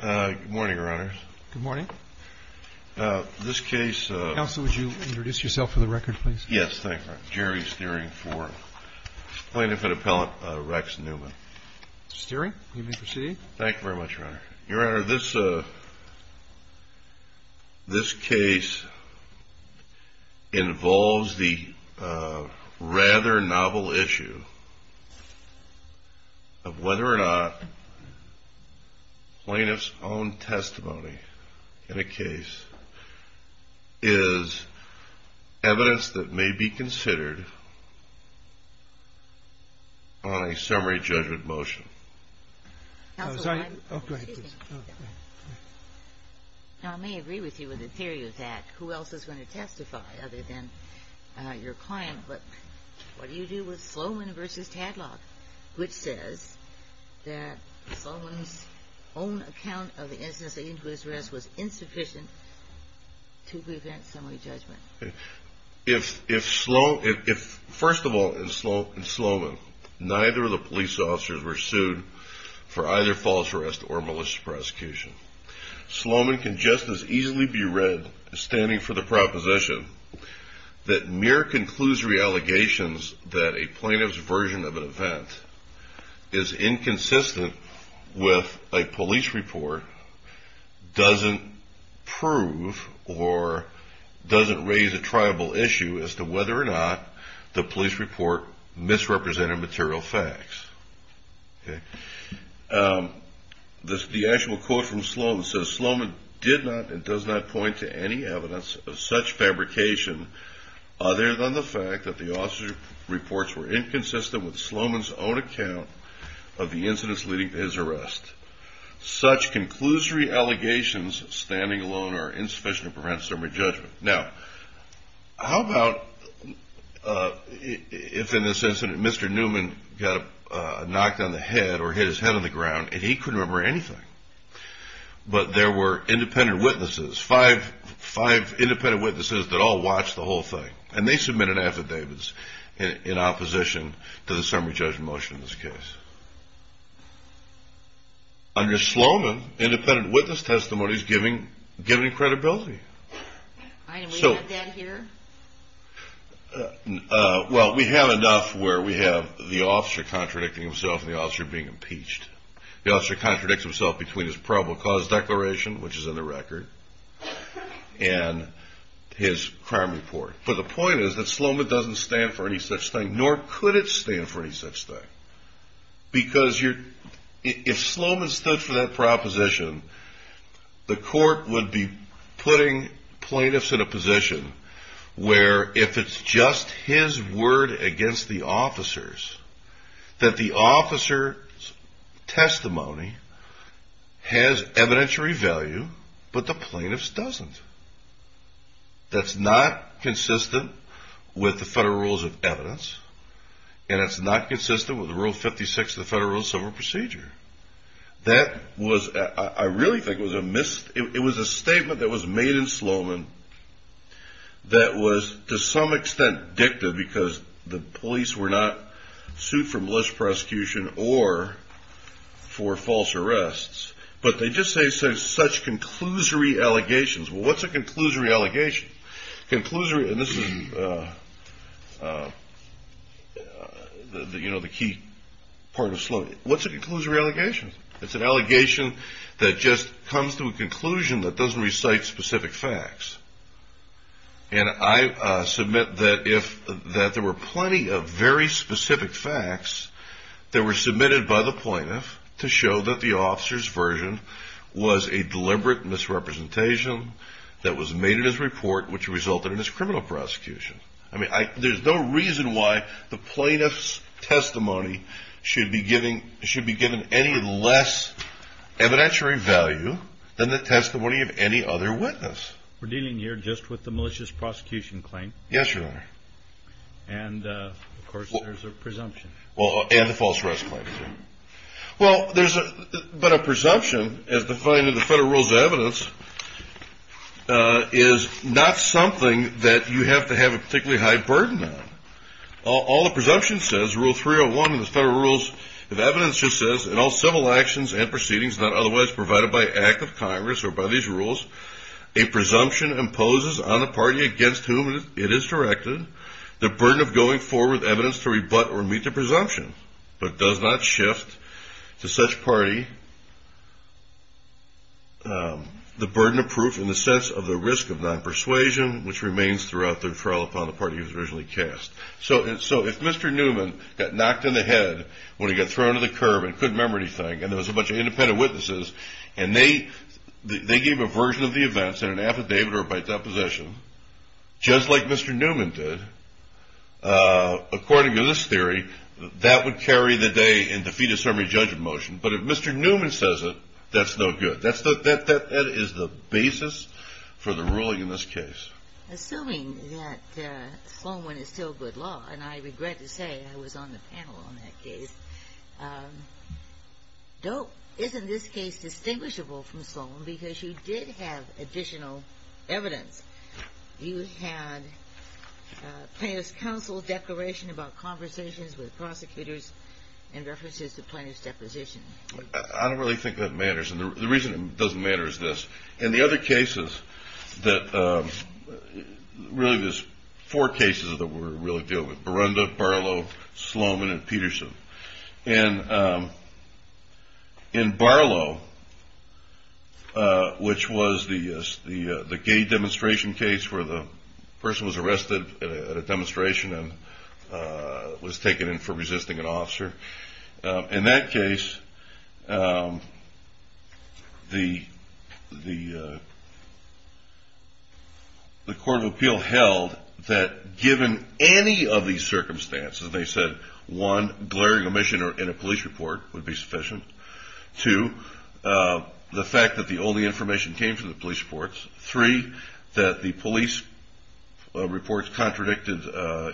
Good morning, Your Honor. Good morning. This case... Counsel, would you introduce yourself for the record, please? Yes, thank you, Your Honor. Jerry Steering IV, plaintiff and appellant, Rex Newman. Mr. Steering, you may proceed. Thank you very much, Your Honor. Your Honor, this case involves the rather novel issue of whether or not plaintiff's own testimony in a case is evidence that may be considered on a summary judgment motion. Counsel, I may agree with you in the theory of that. Who else is going to testify other than your client? But what do you do with Sloman v. Tadlock, which says that Sloman's own account of the incident of injuries was insufficient to prevent summary judgment? First of all, in Sloman, neither of the police officers were sued for either false arrest or malicious prosecution. Sloman can just as easily be read as standing for the proposition that mere conclusory allegations that a plaintiff's version of an event is inconsistent with a police report doesn't prove or doesn't raise a triable issue as to whether or not the police report misrepresented material facts. The actual quote from Sloman says, Sloman did not and does not point to any evidence of such fabrication other than the fact that the officer's reports were inconsistent with Sloman's own account of the incidents leading to his arrest. Such conclusory allegations of standing alone are insufficient to prevent summary judgment. Now, how about if in this incident, Mr. Newman got knocked on the head or hit his head on the ground and he couldn't remember anything, but there were independent witnesses, five independent witnesses that all watched the whole thing, and they submitted affidavits in opposition to the summary judgment motion in this case. Under Sloman, independent witness testimony is given credibility. We have enough where we have the officer contradicting himself and the officer being impeached. The officer contradicts himself between his probable cause declaration, which is in the record, and his crime report. But the point is that Sloman doesn't stand for any such thing, nor could it stand for any such thing. Because if Sloman stood for that proposition, the court would be putting plaintiffs in a position where if it's just his word against the officer's, that the officer's testimony has evidentiary value, but the plaintiff's doesn't. That's not consistent with the federal rules of evidence, and it's not consistent with Rule 56 of the Federal Civil Procedure. I really think it was a statement that was made in Sloman that was, to some extent, dicta, because the police were not sued for malicious prosecution or for false arrests. But they just say such conclusory allegations. Well, what's a conclusory allegation? And this is the key part of Sloman. What's a conclusory allegation? It's an allegation that just comes to a conclusion that doesn't recite specific facts. And I submit that there were plenty of very specific facts that were submitted by the plaintiff to show that the officer's version was a deliberate misrepresentation that was made in his report, which resulted in his criminal prosecution. I mean, there's no reason why the plaintiff's testimony should be given any less evidentiary value than the testimony of any other witness. We're dealing here just with the malicious prosecution claim. Yes, Your Honor. And, of course, there's a presumption. And the false arrest claim. Well, there's a presumption as defined in the federal rules of evidence is not something that you have to have a particularly high burden on. All the presumption says, Rule 301 in the federal rules of evidence just says, In all civil actions and proceedings not otherwise provided by act of Congress or by these rules, a presumption imposes on a party against whom it is directed the burden of going forward with evidence to rebut or meet the presumption, but does not shift to such party the burden of proof in the sense of the risk of non-persuasion, which remains throughout the trial upon the party who was originally cast. So if Mr. Newman got knocked in the head when he got thrown to the curb and couldn't remember anything, and there was a bunch of independent witnesses, and they gave a version of the events in an affidavit or by deposition, just like Mr. Newman did, according to this theory, that would carry the day and defeat a summary judgment motion. But if Mr. Newman says it, that's no good. That is the basis for the ruling in this case. Assuming that Sloan win is still good law, and I regret to say I was on the panel on that case, isn't this case distinguishable from Sloan because you did have additional evidence? You had plaintiff's counsel declaration about conversations with prosecutors in reference to plaintiff's deposition. I don't really think that matters, and the reason it doesn't matter is this. In the other cases, really there's four cases that we're really dealing with, Barunda, Barlow, Sloan, and Peterson. In Barlow, which was the gay demonstration case where the person was arrested at a demonstration and was taken in for resisting an officer. In that case, the court of appeal held that given any of these circumstances, they said one, glaring omission in a police report would be sufficient, two, the fact that the only information came from the police reports, three, that the police reports contradicted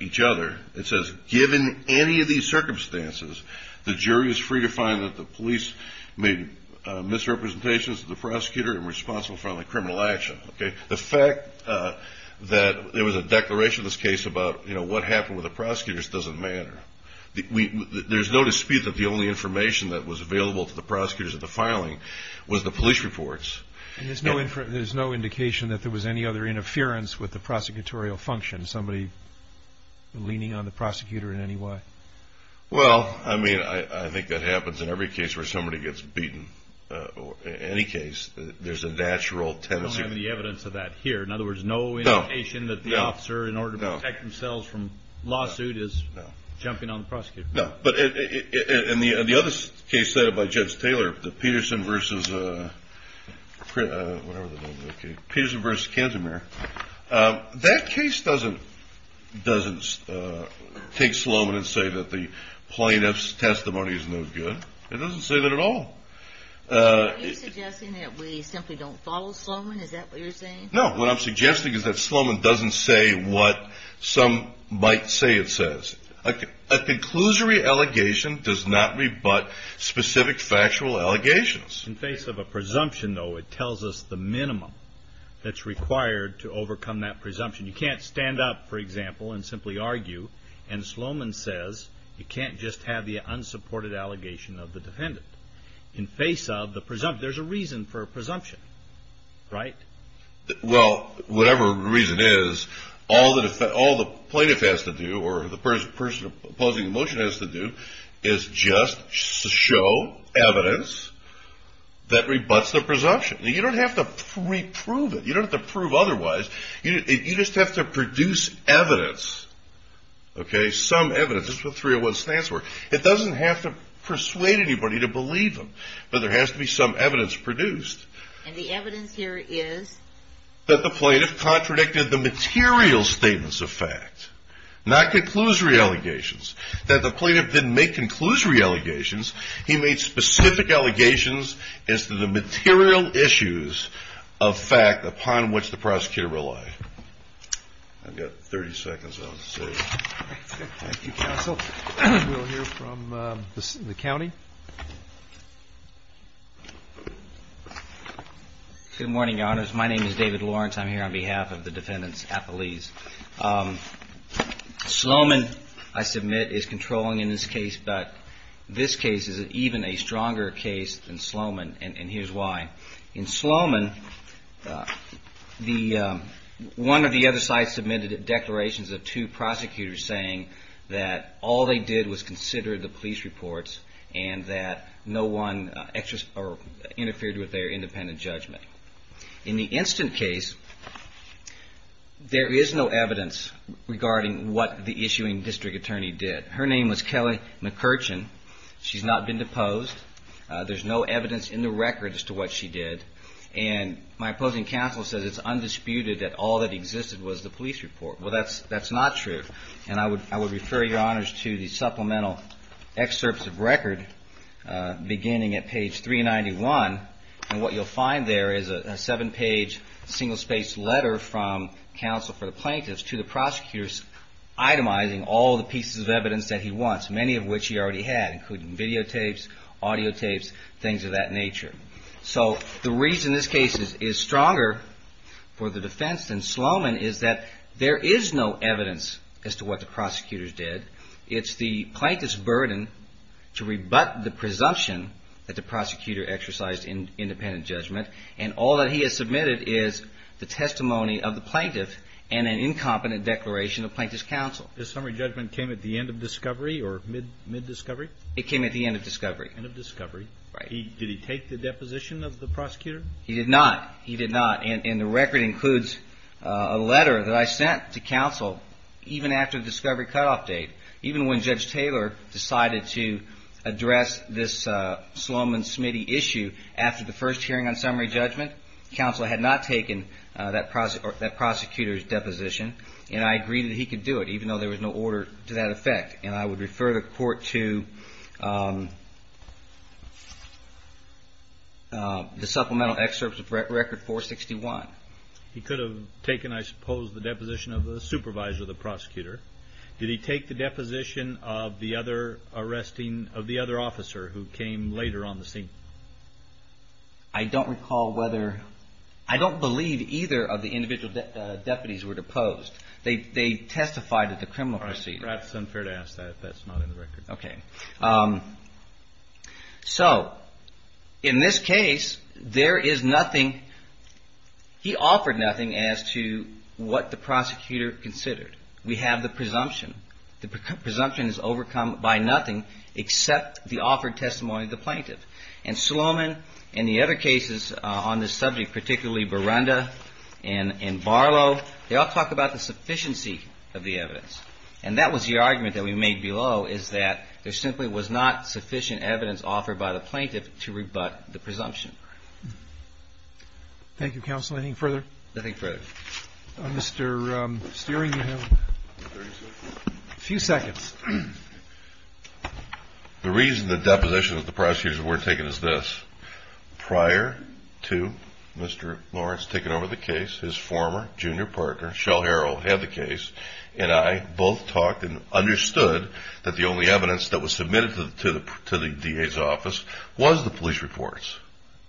each other. It says given any of these circumstances, the jury is free to find that the police made misrepresentations of the prosecutor and responsible for any criminal action. The fact that there was a declaration in this case about what happened with the prosecutors doesn't matter. There's no dispute that the only information that was available to the prosecutors at the filing was the police reports. There's no indication that there was any other interference with the prosecutorial function, somebody leaning on the prosecutor in any way? Well, I mean, I think that happens in every case where somebody gets beaten. In any case, there's a natural tendency. We don't have any evidence of that here. In other words, no indication that the officer, in order to protect themselves from lawsuit, is jumping on the prosecutor. No, but in the other case cited by Judge Taylor, the Peterson versus Kansamere, that case doesn't take Sloman and say that the plaintiff's testimony is no good. It doesn't say that at all. Are you suggesting that we simply don't follow Sloman? Is that what you're saying? No, what I'm suggesting is that Sloman doesn't say what some might say it says. A conclusory allegation does not rebut specific factual allegations. In face of a presumption, though, it tells us the minimum that's required to overcome that presumption. You can't stand up, for example, and simply argue, and Sloman says you can't just have the unsupported allegation of the defendant. In face of the presumption, there's a reason for a presumption, right? Well, whatever the reason is, all the plaintiff has to do, or the person opposing the motion has to do, is just show evidence that rebuts the presumption. You don't have to reprove it. You don't have to prove otherwise. You just have to produce evidence, okay, some evidence. This is what 301 stands for. It doesn't have to persuade anybody to believe them, but there has to be some evidence produced. And the evidence here is that the plaintiff contradicted the material statements of fact, not conclusory allegations, that the plaintiff didn't make conclusory allegations. He made specific allegations as to the material issues of fact upon which the prosecutor relied. I've got 30 seconds on the stage. Thank you, counsel. We'll hear from the county. Good morning, Your Honors. My name is David Lawrence. I'm here on behalf of the defendants' appellees. Sloman, I submit, is controlling in this case, but this case is even a stronger case than Sloman, and here's why. In Sloman, one of the other sides submitted declarations of two prosecutors saying that all they did was consider the police reports and that no one interfered with their independent judgment. In the instant case, there is no evidence regarding what the issuing district attorney did. Her name was Kelly McCurchin. She's not been deposed. There's no evidence in the record as to what she did, and my opposing counsel says it's undisputed that all that existed was the police report. Well, that's not true, and I would refer Your Honors to the supplemental excerpts of record beginning at page 391, and what you'll find there is a seven-page single-spaced letter from counsel for the plaintiffs to the prosecutors itemizing all the pieces of evidence that he wants, many of which he already had, including videotapes, audiotapes, things of that nature. So the reason this case is stronger for the defense than Sloman is that there is no evidence as to what the prosecutors did. It's the plaintiff's burden to rebut the presumption that the prosecutor exercised independent judgment, and all that he has submitted is the testimony of the plaintiff and an incompetent declaration of plaintiff's counsel. This summary judgment came at the end of discovery or mid-discovery? It came at the end of discovery. End of discovery. Right. Did he take the deposition of the prosecutor? He did not. He did not, and the record includes a letter that I sent to counsel even after the discovery cutoff date. Even when Judge Taylor decided to address this Sloman-Smitty issue after the first hearing on summary judgment, counsel had not taken that prosecutor's deposition, and I agreed that he could do it even though there was no order to that effect. And I would refer the court to the supplemental excerpts of record 461. He could have taken, I suppose, the deposition of the supervisor, the prosecutor. Did he take the deposition of the other arresting of the other officer who came later on the scene? I don't recall whether – I don't believe either of the individual deputies were deposed. They testified at the criminal proceeding. That's unfair to ask that. That's not in the record. Okay. So in this case, there is nothing – he offered nothing as to what the prosecutor considered. We have the presumption. The presumption is overcome by nothing except the offered testimony of the plaintiff. And Sloman and the other cases on this subject, particularly Burunda and Barlow, they all talk about the sufficiency of the evidence. And that was the argument that we made below, is that there simply was not sufficient evidence offered by the plaintiff to rebut the presumption. Thank you, Counsel. Any further? Nothing further. Mr. Steering, you have one. A few seconds. The reason the deposition of the prosecutors weren't taken is this. Prior to Mr. Lawrence taking over the case, his former junior partner, Shell Harrell, had the case, and I both talked and understood that the only evidence that was submitted to the DA's office was the police reports.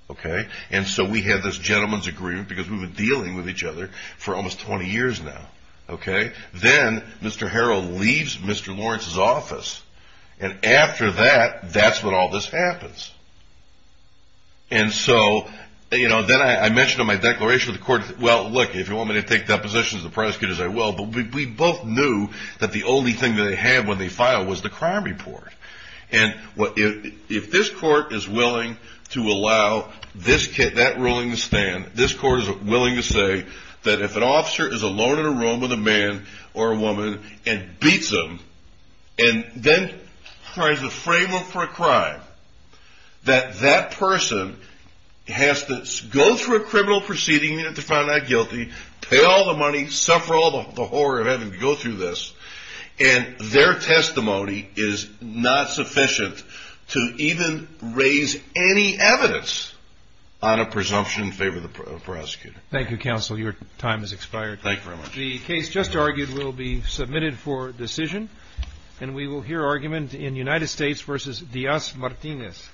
Okay? And so we had this gentleman's agreement because we've been dealing with each other for almost 20 years now. Okay? Then Mr. Harrell leaves Mr. Lawrence's office. And after that, that's when all this happens. And so, you know, then I mentioned in my declaration to the court, well, look, if you want me to take depositions of the prosecutors, I will. But we both knew that the only thing that they had when they filed was the crime report. And if this court is willing to allow that ruling to stand, this court is willing to say that if an officer is alone in a room with a man or a woman and beats them and then tries to frame them for a crime, that that person has to go through a criminal proceeding to find out guilty, pay all the money, suffer all the horror of having to go through this, and their testimony is not sufficient to even raise any evidence on a presumption in favor of the prosecutor. Thank you, counsel. Your time has expired. Thank you very much. The case just argued will be submitted for decision, and we will hear argument in United States v. Diaz-Martinez.